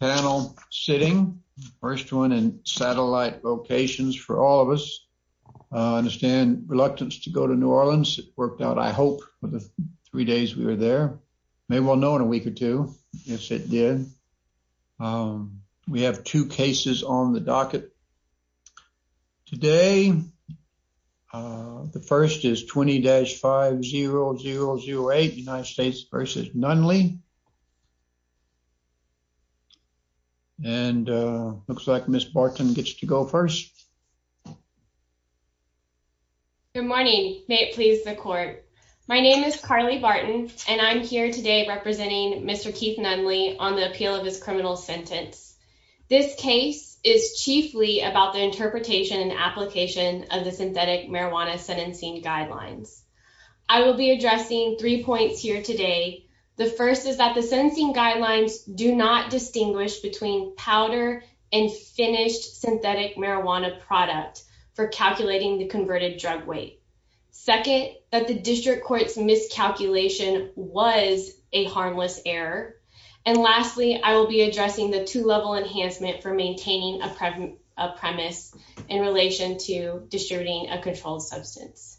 panel sitting. First one in satellite locations for all of us. I understand reluctance to go to New Orleans. It worked out, I hope, for the three days we were there. May well know in a week or two if it did. We have two cases on the docket today. The first is 20-5008 United States v. Nunley. And looks like Ms. Barton gets to go first. Good morning. May it please the court. My name is Carly Barton, and I'm here today representing Mr. Keith Nunley on the appeal of his criminal sentence. This case is chiefly about the interpretation and application of the synthetic here today. The first is that the sentencing guidelines do not distinguish between powder and finished synthetic marijuana product for calculating the converted drug weight. Second, that the district court's miscalculation was a harmless error. And lastly, I will be addressing the two level enhancement for maintaining a premise in relation to distributing a controlled substance.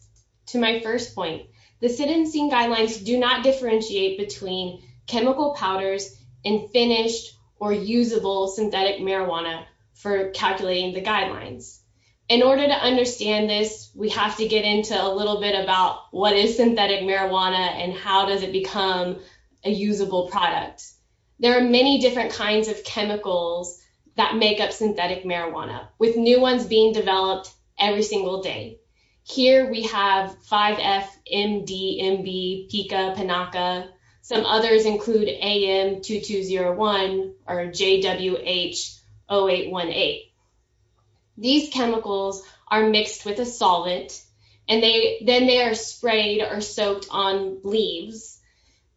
To my first point, the sentencing guidelines do not differentiate between chemical powders and finished or usable synthetic marijuana for calculating the guidelines. In order to understand this, we have to get into a little bit about what is synthetic marijuana and how does it become a usable product. There are many different kinds of chemicals that make up synthetic Here we have 5F-MDMB, PICA, PINACA. Some others include AM-2201 or JWH-0818. These chemicals are mixed with a solvent, and then they are sprayed or soaked on leaves.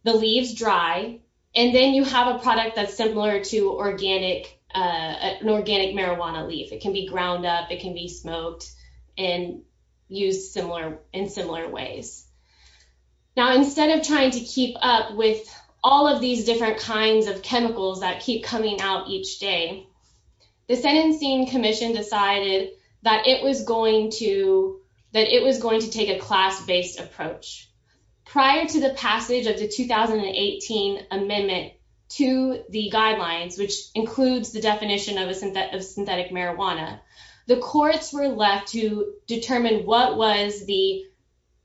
The leaves dry, and then you have a product that's similar to an organic marijuana leaf. It can be ground up, it can be smoked, and it can be used as a Now, instead of trying to keep up with all of these different kinds of chemicals that keep coming out each day, the sentencing commission decided that it was going to take a class-based approach. Prior to the passage of the 2018 amendment to the guidelines, which includes the definition of synthetic marijuana, the courts were left to determine what was the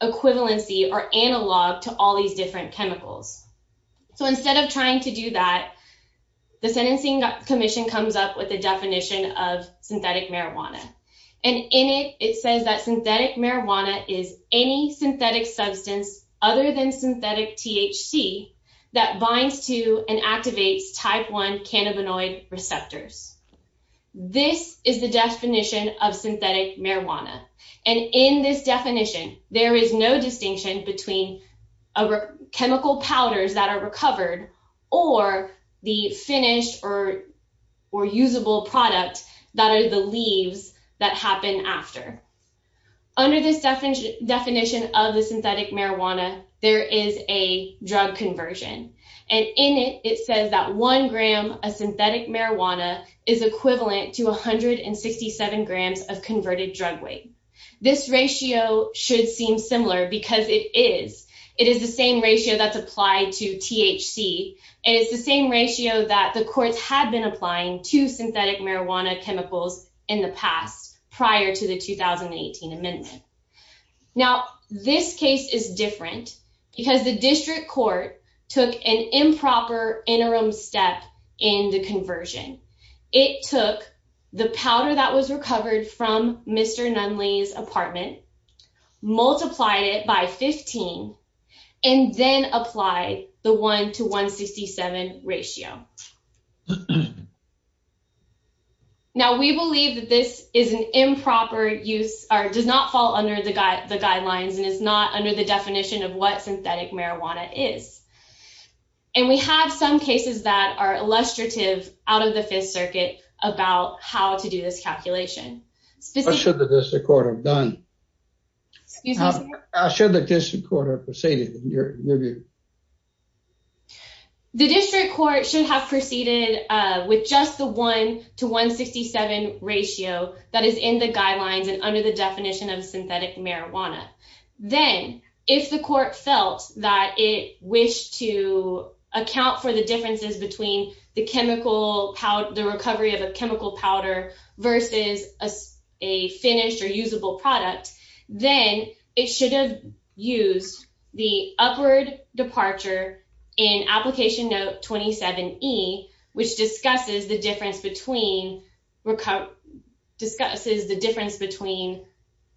equivalency or analog to all these different chemicals. So instead of trying to do that, the sentencing commission comes up with a definition of synthetic marijuana. And in it, it says that synthetic marijuana is any synthetic substance other than synthetic THC that binds to and activates type 1 cannabinoid receptors. This is the definition of synthetic marijuana. And in this definition, there is no distinction between chemical powders that are recovered or the finished or usable product that are the leaves that happen after. Under this definition of the synthetic marijuana, there is a drug conversion. And in it, it says that one gram of synthetic marijuana is equivalent to 167 grams of converted drug weight. This ratio should seem similar because it is. It is the same ratio that's applied to THC. It is the same ratio that the courts had been applying to synthetic marijuana chemicals in the past prior to the 2018 amendment. Now, this case is different because the district court took an improper interim step in the conversion. It took the powder that was recovered from Mr. Nunley's apartment, multiplied it by 15, and then applied the 1 to 167 ratio. Now, we believe that this is an improper use or does not fall under the guidelines and is not under the definition of what synthetic marijuana is. And we have some cases that are illustrative out of the Fifth Circuit about how to do this calculation. The district court should have proceeded with just the 1 to 167 ratio that is in the guidelines and under the definition of synthetic marijuana. Then, if the court felt that it wished to account for the differences between the recovery of a chemical powder versus a finished or usable product, then it should have used the upward departure in Application Note 27E, which discusses the difference between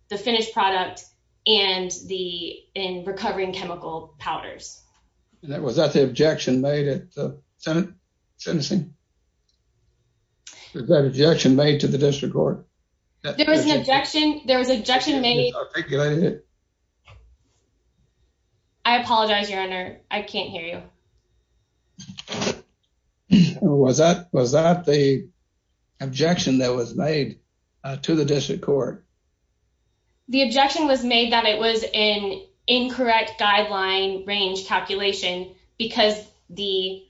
the finished product and the recovering chemical powders. Was that the objection made at the sentencing? Was that an objection made to the district court? There was an objection made. I apologize, Your Honor. I can't hear you. Was that the objection that was made to the district court? The objection was made that it was an incorrect guideline range calculation because the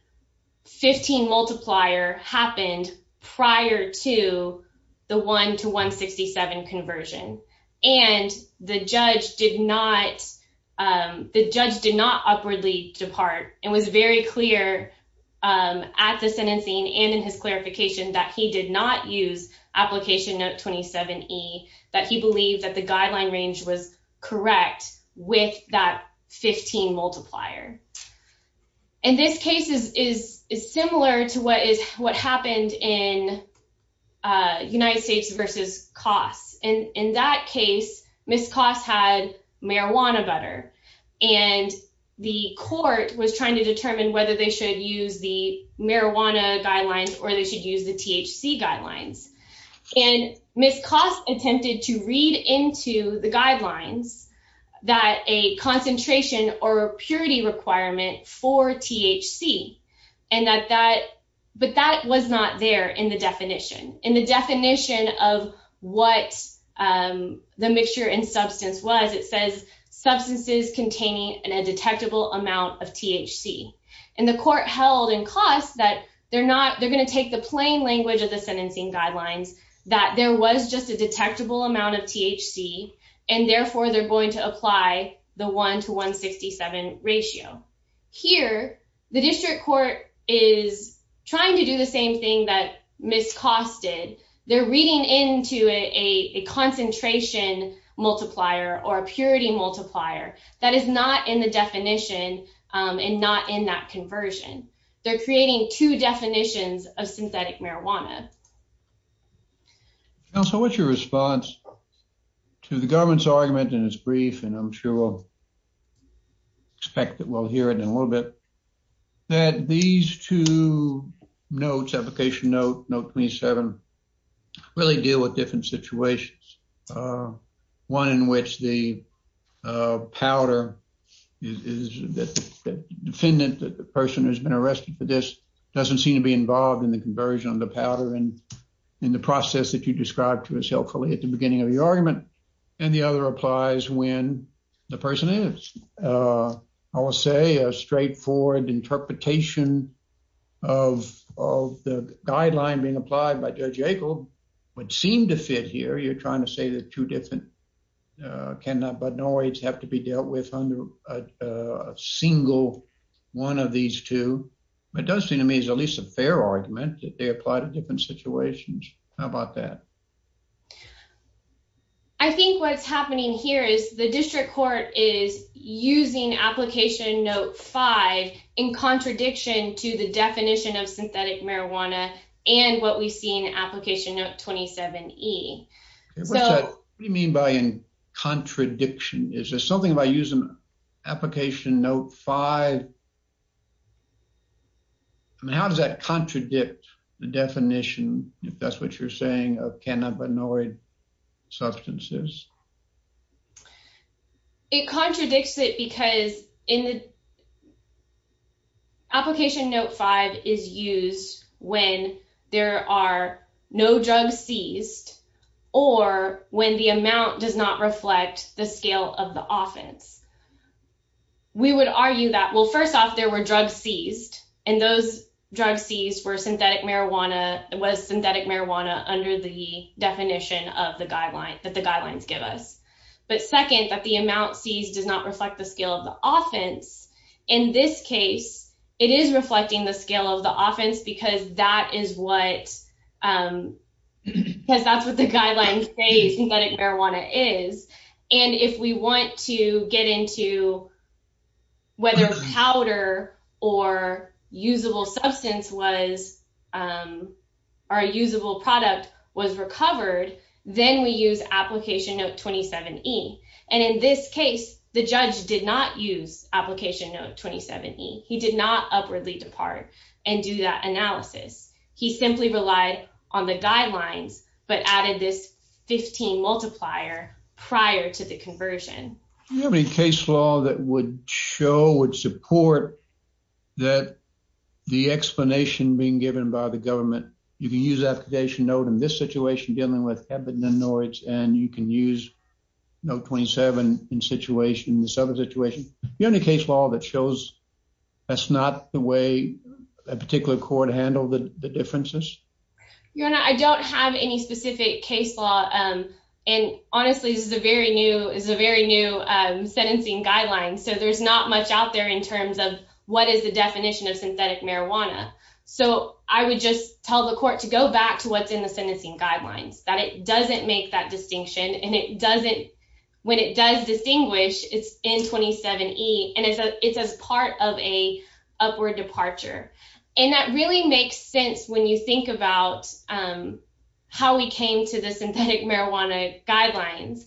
15 multiplier happened prior to the 1 to 167 conversion. And the judge did not upwardly depart and was very clear at the sentencing and in his clarification that he did not use Application Note 27E, that he believed that the guideline range was correct with that 15 multiplier. And this case is similar to what happened in United States versus Coss. In that case, Ms. Coss had marijuana butter and the court was trying to determine whether they should use the marijuana guidelines or they should use the THC guidelines. And Ms. Coss attempted to read into the guidelines that a concentration or purity requirement for THC, but that was not there in the definition. In the definition of what the mixture in substance was, it says substances containing a detectable amount of THC. And the court held in Coss that they're going to take the plain language of the sentencing guidelines, that there was just a detectable amount of THC and therefore they're going to apply the 1 to 167 ratio. Here, the district court is trying to do the same thing that Ms. Coss did. They're reading into a concentration multiplier or a purity multiplier that is not in the definition and not in that conversion. They're creating two definitions of synthetic marijuana. Counsel, what's your response to the government's argument in its brief, and I'm sure we'll expect that we'll hear it in a little bit, that these two notes, application note 27, really deal with different situations. One in which the powder is the defendant, the person who's been arrested for this, doesn't seem to be involved in the conversion of the powder and in the process that you described to us helpfully at the beginning of the argument. And the other applies when the person is. I will say a straightforward interpretation of the guideline being applied by Judge Akel would seem to fit here. You're trying to say that two different cannabinoids have to be dealt with under a single one of these two. It does seem to me as at least a fair argument that they apply to different situations. How about that? I think what's happening here is the district court is using application note five in contradiction to the definition of synthetic marijuana and what we see in application note 27E. What do you mean by in contradiction? Is there something about using application note five? I mean, how does that contradict the definition, if that's what you're saying, of cannabinoid substances? It contradicts it because in the application note five is used when there are no drugs seized or when the amount does not reflect the scale of the offense. We would argue that, well, first off, there were drugs seized and those drugs seized were synthetic marijuana. It was synthetic marijuana under the definition of the guideline that the guidelines give us. But second, that the amount seized does not reflect the scale of the offense. In this case, it is reflecting the scale of the offense because that is what the guidelines say synthetic marijuana is. And if we want to get into whether powder or usable substance was or usable product was recovered, then we use application note 27E. And in this case, the judge did not use application note 27E. He did not upwardly depart and do that analysis. He simply relied on the guidelines, but added this 15 multiplier prior to the conversion. Do you have any case law that would show, would support that the explanation being given by the government, you can use application note in this situation dealing with cannabinoids and you can use note 27 in this other situation? Do you have any case law that shows that's not the way a particular court handled the differences? I don't have any specific case law. And honestly, this is a very new sentencing guidelines. So there's not much out there in terms of what is the definition of synthetic marijuana. So I would just tell the court to go back to what's in the sentencing guidelines, that it doesn't make that distinction and it doesn't, when it does distinguish, it's in 27E and it's as part of a upward departure. And that really makes sense when you think about how we came to the synthetic marijuana guidelines.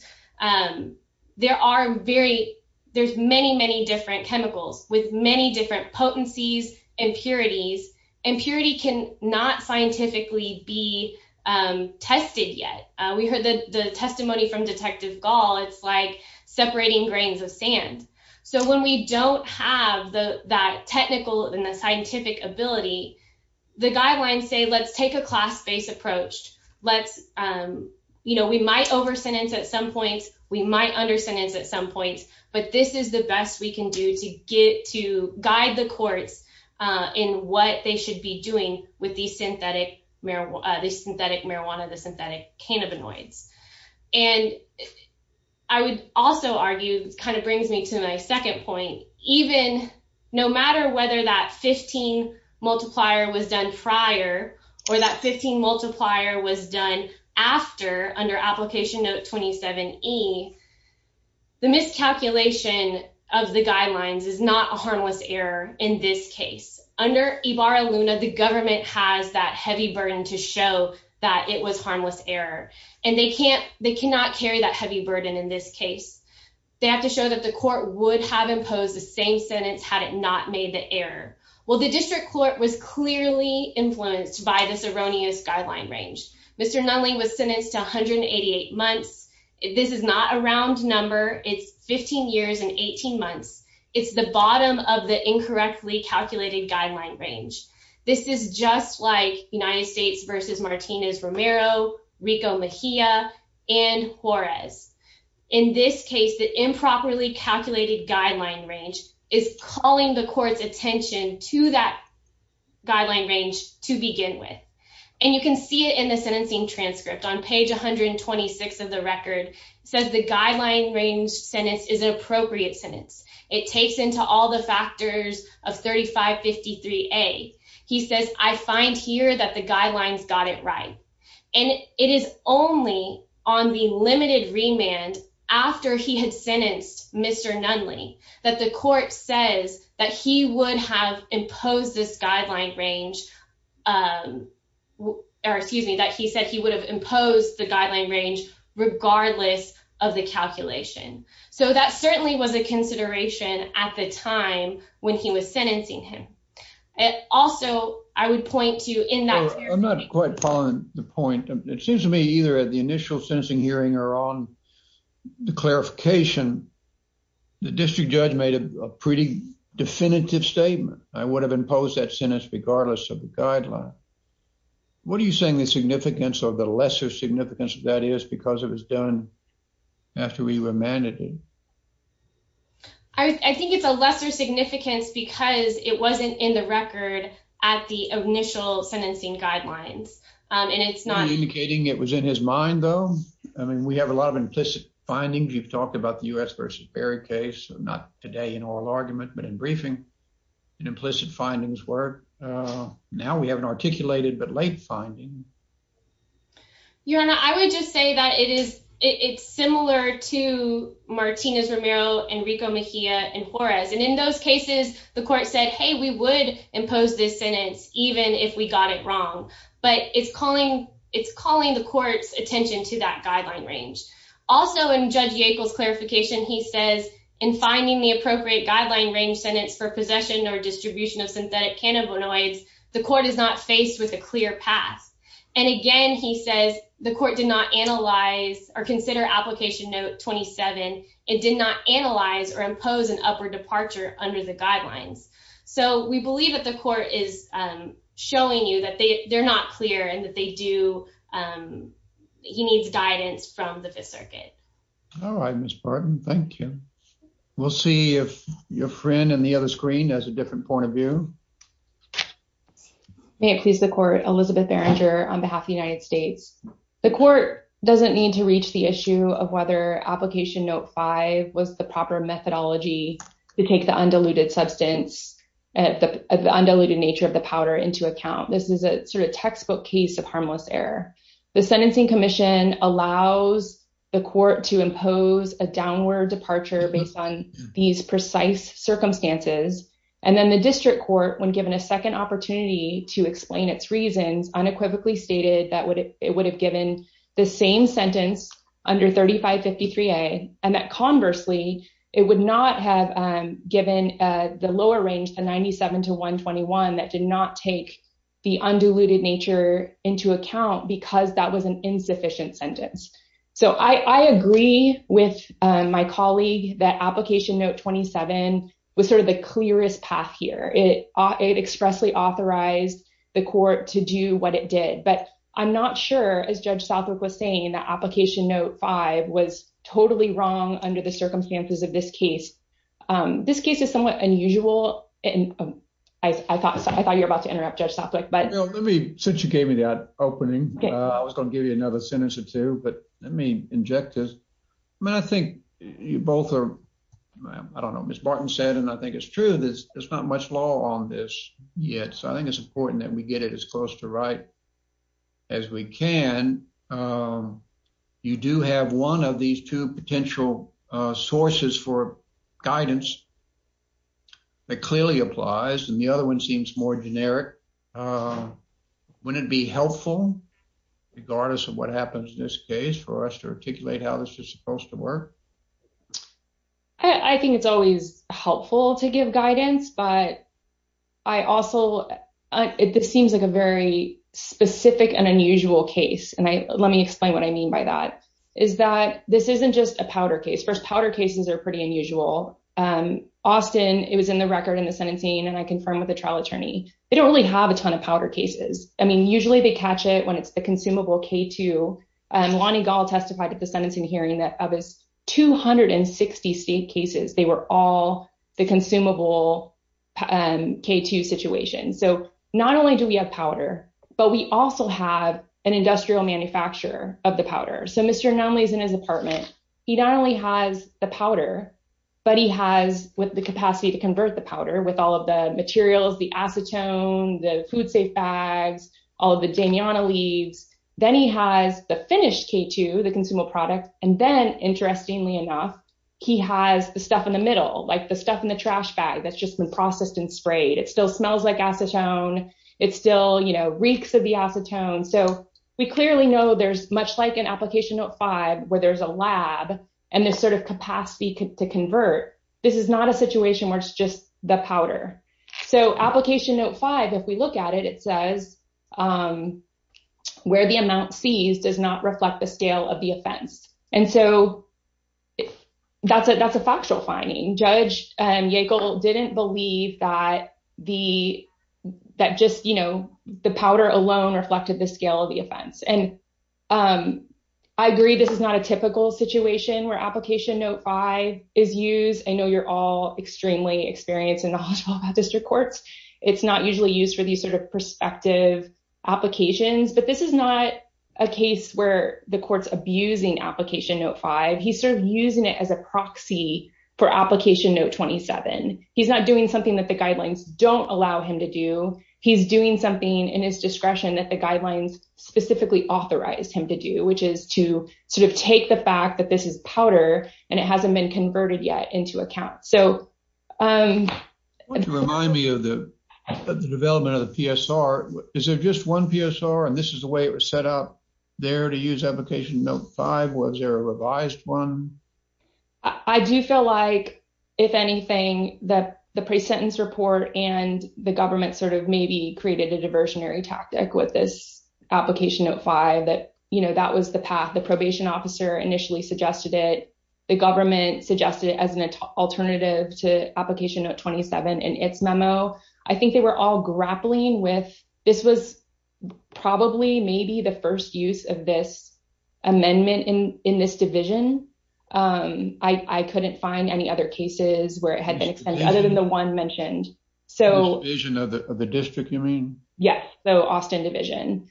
There are very, there's many, many different chemicals with many different potencies, impurities. Impurity can not scientifically be tested yet. We heard the testimony from Detective Gall. It's like separating grains of sand. So when we don't have that technical and the scientific ability, the guidelines say, let's take a class-based approach. We might over-sentence at some points, we might under-sentence at some points, but this is the best we can do to guide the courts in what they should be doing with the synthetic marijuana, the synthetic cannabinoids. And I would also argue, kind of brings me to my second point, even no matter whether that 15 multiplier was done prior or that 15 multiplier was done after, under Application Note 27E, the miscalculation of the guidelines is not a harmless error in this case. Under Ibarra-Luna, the government has that heavy burden to show that it was harmless error. And they can't, they cannot carry that heavy burden in this case. They have to show that the court would have imposed the same sentence had it not made the error. Well, the district court was clearly influenced by this erroneous guideline range. Mr. Nunley was sentenced to 188 months. This is not a round number. It's 15 years and 18 months. It's the bottom of the incorrectly calculated guideline range. This is just like United States v. Martinez-Romero, Rico Mejia, and Juarez. In this case, the improperly calculated guideline range is calling the court's attention to that guideline range to begin with. And you can see it in the sentencing transcript. On page 126 of the record, it says the guideline range sentence is an appropriate sentence. It takes into all the factors of 3553A. He says, I find here that the guidelines got it right. And it is only on the limited remand after he had sentenced Mr. Nunley that the court says that he would have imposed this guideline range, or excuse me, that he said he would have imposed the guideline range regardless of the calculation. So that certainly was a consideration at the time when he was sentencing him. Also, I would point to in that- I'm not quite following the point. It seems to me either at the initial sentencing hearing or on the clarification, the district judge made a pretty definitive statement. I would have imposed that sentence regardless of the guideline. What are you saying the significance or the lesser significance of that is because it was done after he remanded him? I think it's a lesser significance because it wasn't in the record at the initial sentencing guidelines, and it's not- Indicating it was in his mind, though? I mean, we have a lot of implicit findings. You've talked about the U.S. v. Perry case, not today in oral argument, but in briefing, and implicit findings work. Now we have an articulated but late finding. Your Honor, I would just say that it's similar to Martinez-Romero, Enrico Mejia, and Juarez, and in those cases, the court said, hey, we would impose this sentence even if we got it wrong, but it's calling the court's attention to that guideline range. Also, in Judge Yackel's clarification, he says, in finding the appropriate guideline range sentence for possession or distribution of synthetic cannabinoids, the court is not faced with a clear path. And again, he says, the court did not analyze or consider Application Note 27 and did not analyze or impose an upward departure under the guidelines. So we believe that the court is showing you that they're not clear and that they do- he needs guidance from the Fifth Circuit. All right, Ms. Barton. Thank you. We'll see if your friend on the other screen has a different point of view. May it please the court, Elizabeth Berenger on behalf of the United States. The court doesn't need to reach the issue of whether Application Note 5 was the proper methodology to take the undiluted substance- the undiluted nature of the powder into account. This is a sort of textbook case of harmless error. The sentencing commission allows the court to impose a downward departure based on these precise circumstances. And then the district court, when given a second opportunity to explain its reasons, unequivocally stated that it would have given the same sentence under 3553A and that conversely, it would not have given the lower range, the 97 to 121, that did not take the undiluted nature into account because that was an insufficient sentence. So I agree with my colleague that Application Note 27 was sort of the clearest path here. It expressly authorized the court to do what it did. But I'm not sure, as Judge Southwick was saying, that Application Note 5 was totally wrong under the circumstances of this case. This case is somewhat unusual. I thought you were about to interrupt Judge Southwick. Since you gave me that opening, I was going to give you another sentence or two, but let me inject this. I mean, I think you both are, I don't know, Ms. Barton said, and I think it's true, there's not much law on this yet. So I think it's important that we get it as close to right as we can. You do have one of these two potential sources for guidance that clearly applies, and the other one seems more generic. Wouldn't it be helpful, regardless of what happens in this case, for us to articulate how this is supposed to work? I think it's always helpful to give guidance, but I also, this seems like a very specific and unusual case. And let me explain what I mean by that, is that this isn't just a powder case. First, powder cases are pretty unusual. Austin, it was in the record in the sentencing, and I confirmed with the trial attorney. They don't really have a ton of powder cases. I mean, usually they catch it when it's a consumable K2. Lonnie Gall testified at the sentencing hearing that of his 260 state cases, they were all the consumable K2 situations. So not only do we have powder, but we also have an industrial manufacturer of the powder. So Mr. Anomaly is in his apartment. He not only has the powder, but he has the capacity to convert the powder with all of the materials, the acetone, the food safe bags, all of the Damiana leaves. Then he has the finished K2, the consumable product. And then, interestingly enough, he has the stuff in the middle, like the stuff in the trash bag that's just been processed and sprayed. It still smells like acetone. It still, you know, reeks of the acetone. So we clearly know there's much like an Application Note 5, where there's a lab and this sort of capacity to convert. This is not a situation where it's just the powder. So Application Note 5, if we look at it, it says where the amount seized does not reflect the scale of the offense. And so that's a that's a factual finding. Judge Yackel didn't believe that the that just, you know, the powder alone reflected the scale of the offense. And I agree, this is not a typical situation where Application Note 5 is used. I know you're all extremely experienced and knowledgeable about district courts. It's not usually used for these sort of perspective applications. But this is not a case where the court's abusing Application Note 5. He's sort of using it as a proxy for Application Note 27. He's not doing something that the guidelines don't allow him to do. He's doing something in his discretion that the guidelines specifically authorized him to do, which is to sort of take the fact that this is powder and it hasn't been converted yet into account. So, um, Remind me of the development of the PSR. Is there just one PSR and this is the way it was set up there to use Application Note 5? Was there a revised one? I do feel like, if anything, that the pre-sentence report and the government sort of maybe created a diversionary tactic with this Application Note 5 that, you know, that was the path the probation officer initially suggested it. The government suggested it as an alternative to Application Note 27 in its memo. I think they were all grappling with this was probably maybe the first use of this amendment in this division. I couldn't find any other cases where it had been extended other than the one mentioned. So, the division of the district, you mean? Yeah, the Austin division.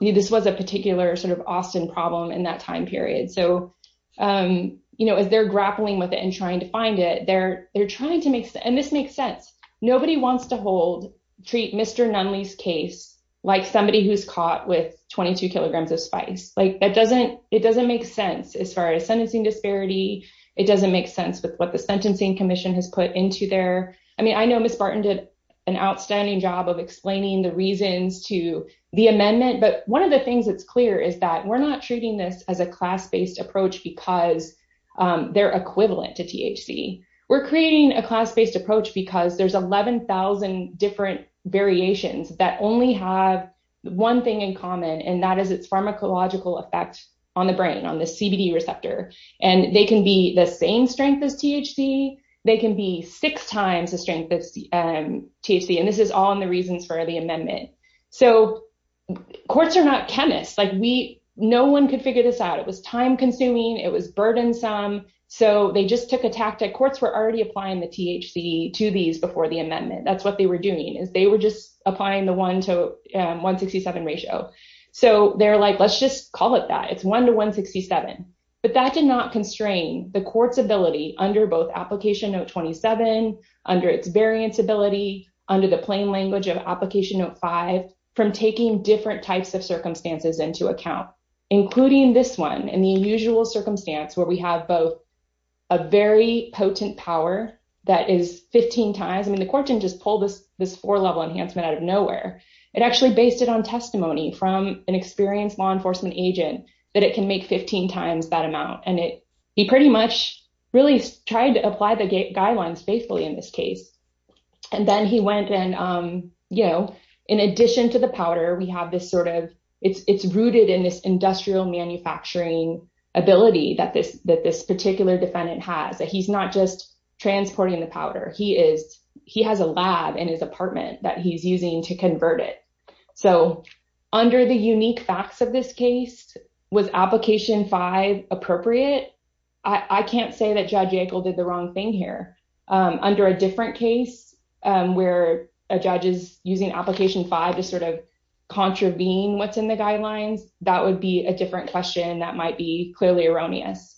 This was a particular sort of Austin problem in that time period. So, you know, as they're grappling with it and trying to find it, they're trying to make sense. And this makes sense. Nobody wants to hold, treat Mr. Nunley's case like somebody who's caught with 22 kilograms of spice. Like, that doesn't, it doesn't make sense as far as sentencing disparity. It doesn't make sense with what the Sentencing Commission has put into there. I mean, I know Ms. Barton did an outstanding job of explaining the reasons to the amendment, but one of the things that's clear is that we're not treating this as a class-based approach because they're equivalent to THC. We're creating a class-based approach because there's 11,000 different variations that only have one thing in common, and that is its pharmacological effect on the brain, on the CBD receptor. And they can be the same strength as THC. They can be six times the strength of THC, and this is all in the reasons for the amendment. So, courts are not chemists. Like, we, no one could figure this out. It was time-consuming. It was burdensome. So, they just took a tactic. Courts were already applying the THC to these before the amendment. That's what they were doing, is they were just applying the one-to-167 ratio. So, they're like, let's just call it that. It's one-to-167. But that did not constrain the court's ability under both Application Note 27, under its variance ability, under the plain language of Application Note 5, from taking different types of circumstances into account, including this one and the unusual circumstance where we have both a very potent power that is 15 times. I mean, the court didn't just pull this four-level enhancement out of nowhere. It actually based it on testimony from an experienced law enforcement agent that it can make 15 times that amount. And he pretty much really tried to apply the guidelines faithfully in this case. And then he went and, you know, in addition to the powder, we have this sort of—it's rooted in this industrial manufacturing ability that this particular defendant has, that he's not just transporting the powder. He has a lab in his apartment that he's using to convert it. So, under the unique facts of this case, was Application 5 appropriate? I can't say that Judge Ankle did the wrong thing here. Under a different case, where a judge is using Application 5 to sort of contravene what's in the guidelines, that would be a different question that might be clearly erroneous.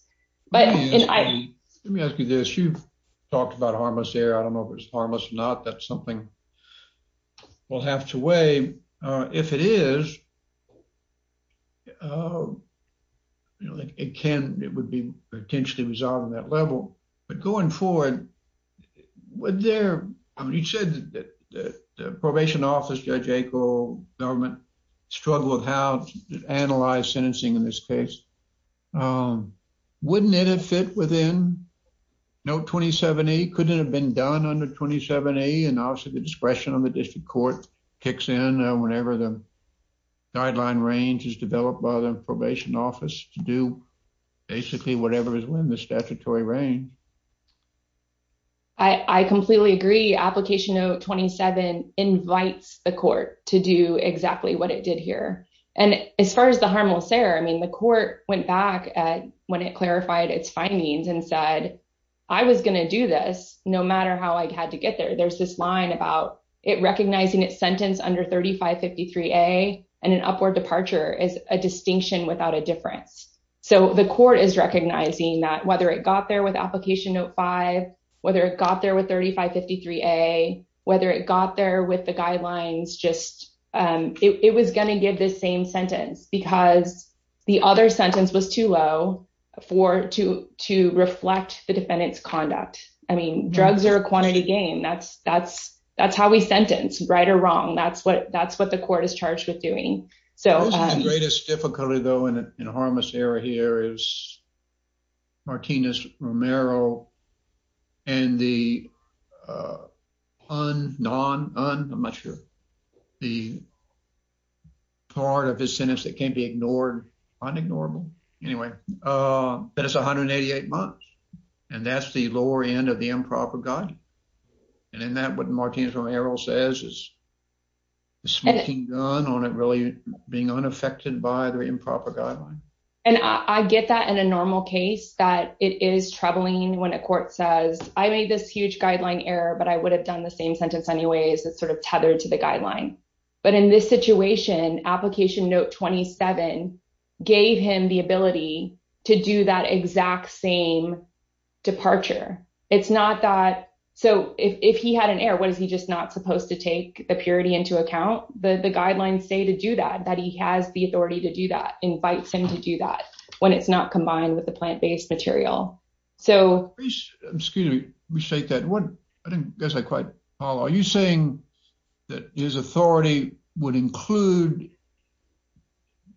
Let me ask you this. You've talked about harmless error. I don't know if it's harmless or not. That's something we'll have to weigh. If it is, you know, it can—it would be potentially resolved on that level. But going forward, would there—I mean, you said that the probation office, Judge Ankle, government struggle with how to analyze sentencing in this case. Wouldn't it have fit within Note 27A? Couldn't it have been done under 27A? I completely agree. Application Note 27 invites the court to do exactly what it did here. And as far as the harmless error, I mean, the court went back when it clarified its findings and said, I was going to do this no matter how I had to get there. There's this line about it recognizing its sentence under 3553A and an upward departure as a distinction without a difference. So the court is recognizing that whether it got there with Application Note 5, whether it got there with 3553A, whether it got there with the guidelines, just—it was going to give the same sentence because the other sentence was too low to reflect the defendant's conduct. I mean, drugs are a quantity game. That's how we sentence, right or wrong. That's what the court is charged with doing. The greatest difficulty, though, in harmless error here is Martinez-Romero and the part of his sentence that can't be ignored, unignorable, anyway, that is 188 months. And that's the lower end of the improper guide. And in that, what Martinez-Romero says is a smoking gun on it really being unaffected by the improper guideline. And I get that in a normal case that it is troubling when a court says, I made this huge guideline error, but I would have done the same sentence anyways. It's sort of tethered to the guideline. But in this situation, Application Note 27 gave him the ability to do that exact same departure. It's not that—so if he had an error, what, is he just not supposed to take the purity into account? The guidelines say to do that, that he has the authority to do that, invites him to do that when it's not combined with the plant-based material. Excuse me. I didn't quite follow. Are you saying that his authority would include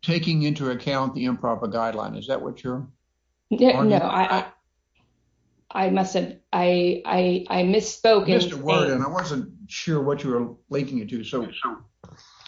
taking into account the improper guideline? Is that what you're arguing? No, I misspoke. I missed a word, and I wasn't sure what you were linking it to. So you're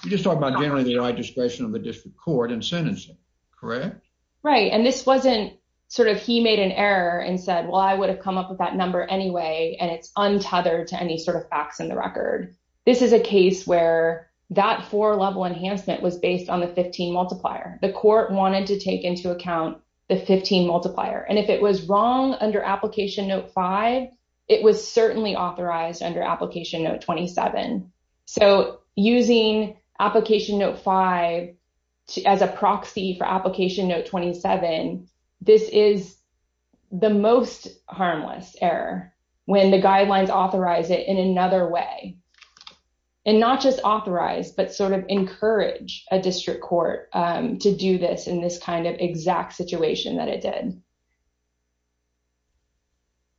just talking about generally the right discretion of the district court in sentencing, correct? Right. And this wasn't sort of he made an error and said, well, I would have come up with that number anyway, and it's untethered to any sort of facts in the record. This is a case where that four-level enhancement was based on the 15 multiplier. The court wanted to take into account the 15 multiplier. And if it was wrong under Application Note 5, it was certainly authorized under Application Note 27. So using Application Note 5 as a proxy for Application Note 27, this is the most harmless error when the guidelines authorize it in another way. And not just authorize, but sort of encourage a district court to do this in this kind of exact situation that it did.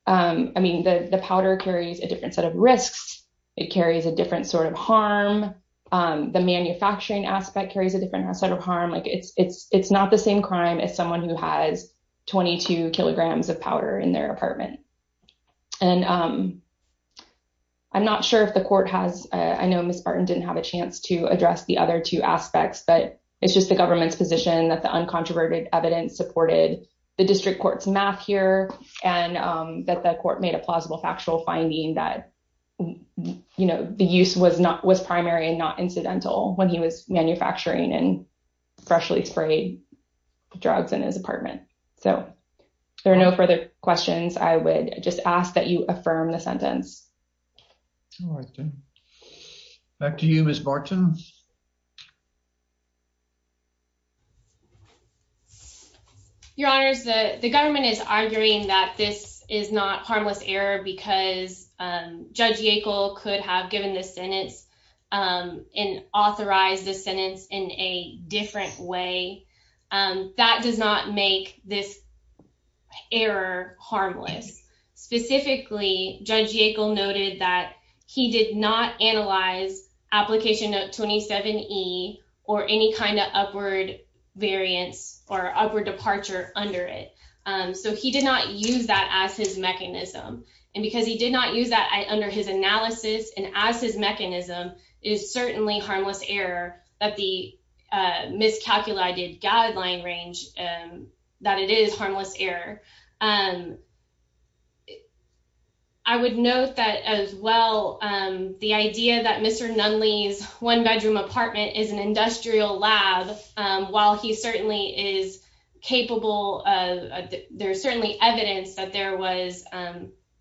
I mean, the powder carries a different set of risks. It carries a different sort of harm. The manufacturing aspect carries a different set of harm. It's not the same crime as someone who has 22 kilograms of powder in their apartment. And I'm not sure if the court has, I know Ms. Barton didn't have a chance to address the other two aspects, but it's just the government's position that the uncontroverted evidence supported the district court's math here. And that the court made a plausible factual finding that, you know, the use was primary and not incidental when he was manufacturing and freshly sprayed drugs in his apartment. So there are no further questions. I would just ask that you affirm the sentence. Back to you, Ms. Barton. Your Honor, the government is arguing that this is not harmless error because Judge Yackel could have given the sentence and authorized the sentence in a different way. That does not make this error harmless. Specifically, Judge Yackel noted that he did not analyze Application Note 27E or any kind of upward variance or upward departure under it. That it is harmless error. I would note that as well, the idea that Mr. Nunley's one bedroom apartment is an industrial lab, while he certainly is capable of, there's certainly evidence that there was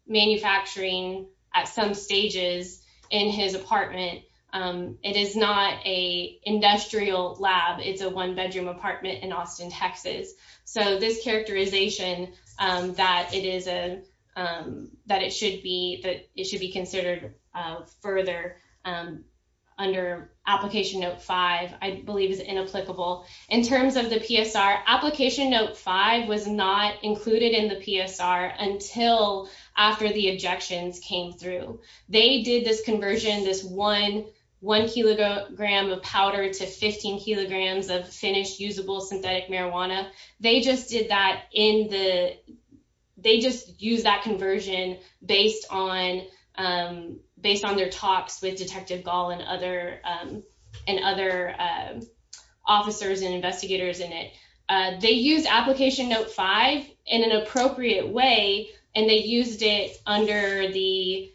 manufacturing at some stages in his apartment. It is not a industrial lab. It's a one bedroom apartment in Austin, Texas. So this characterization that it should be considered further under Application Note 5, I believe is inapplicable. In terms of the PSR, Application Note 5 was not included in the PSR until after the objections came through. They did this conversion, this one kilogram of powder to 15 kilograms of finished usable synthetic marijuana. They just did that in the, they just used that conversion based on their talks with Detective Gall and other officers and investigators in it. They used Application Note 5 in an appropriate way, and they used it under the,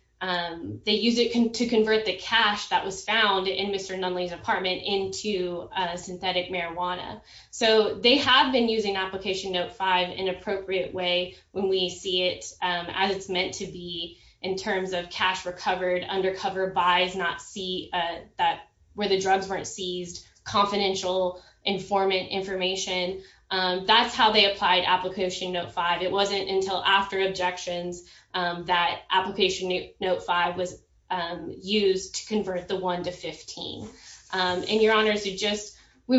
they used it to convert the cash that was found in Mr. Nunley's apartment into synthetic marijuana. So they have been using Application Note 5 in an appropriate way when we see it as it's meant to be in terms of cash recovered, undercover buys, not see that, where the drugs weren't seized, confidential informant information. That's how they applied Application Note 5. It wasn't until after objections that Application Note 5 was used to convert the one to 15. And Your Honors, we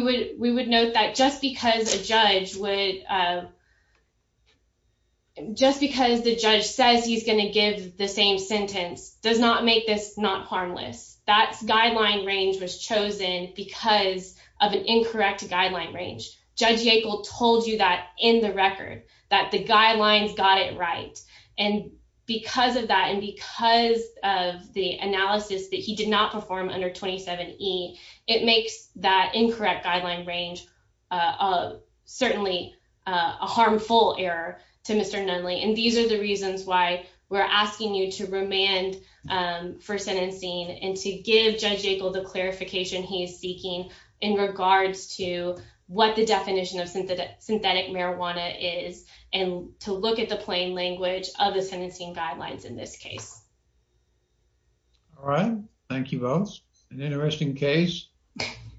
would note that just because a judge would, just because the judge says he's going to give the same sentence does not make this not harmless. That guideline range was chosen because of an incorrect guideline range. Judge Yackel told you that in the record, that the guidelines got it right. And because of that, and because of the analysis that he did not perform under 27E, it makes that incorrect guideline range certainly a harmful error to Mr. Nunley. And these are the reasons why we're asking you to remand for sentencing and to give Judge Yackel the clarification he is seeking in regards to what the definition of synthetic marijuana is, and to look at the plain language of the sentencing guidelines in this case. All right. Thank you both. An interesting case.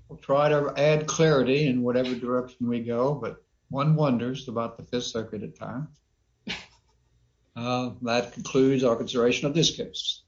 We'll try to add clarity in whatever direction we go, but one wonders about the Fifth Circuit at times. That concludes our consideration of this case.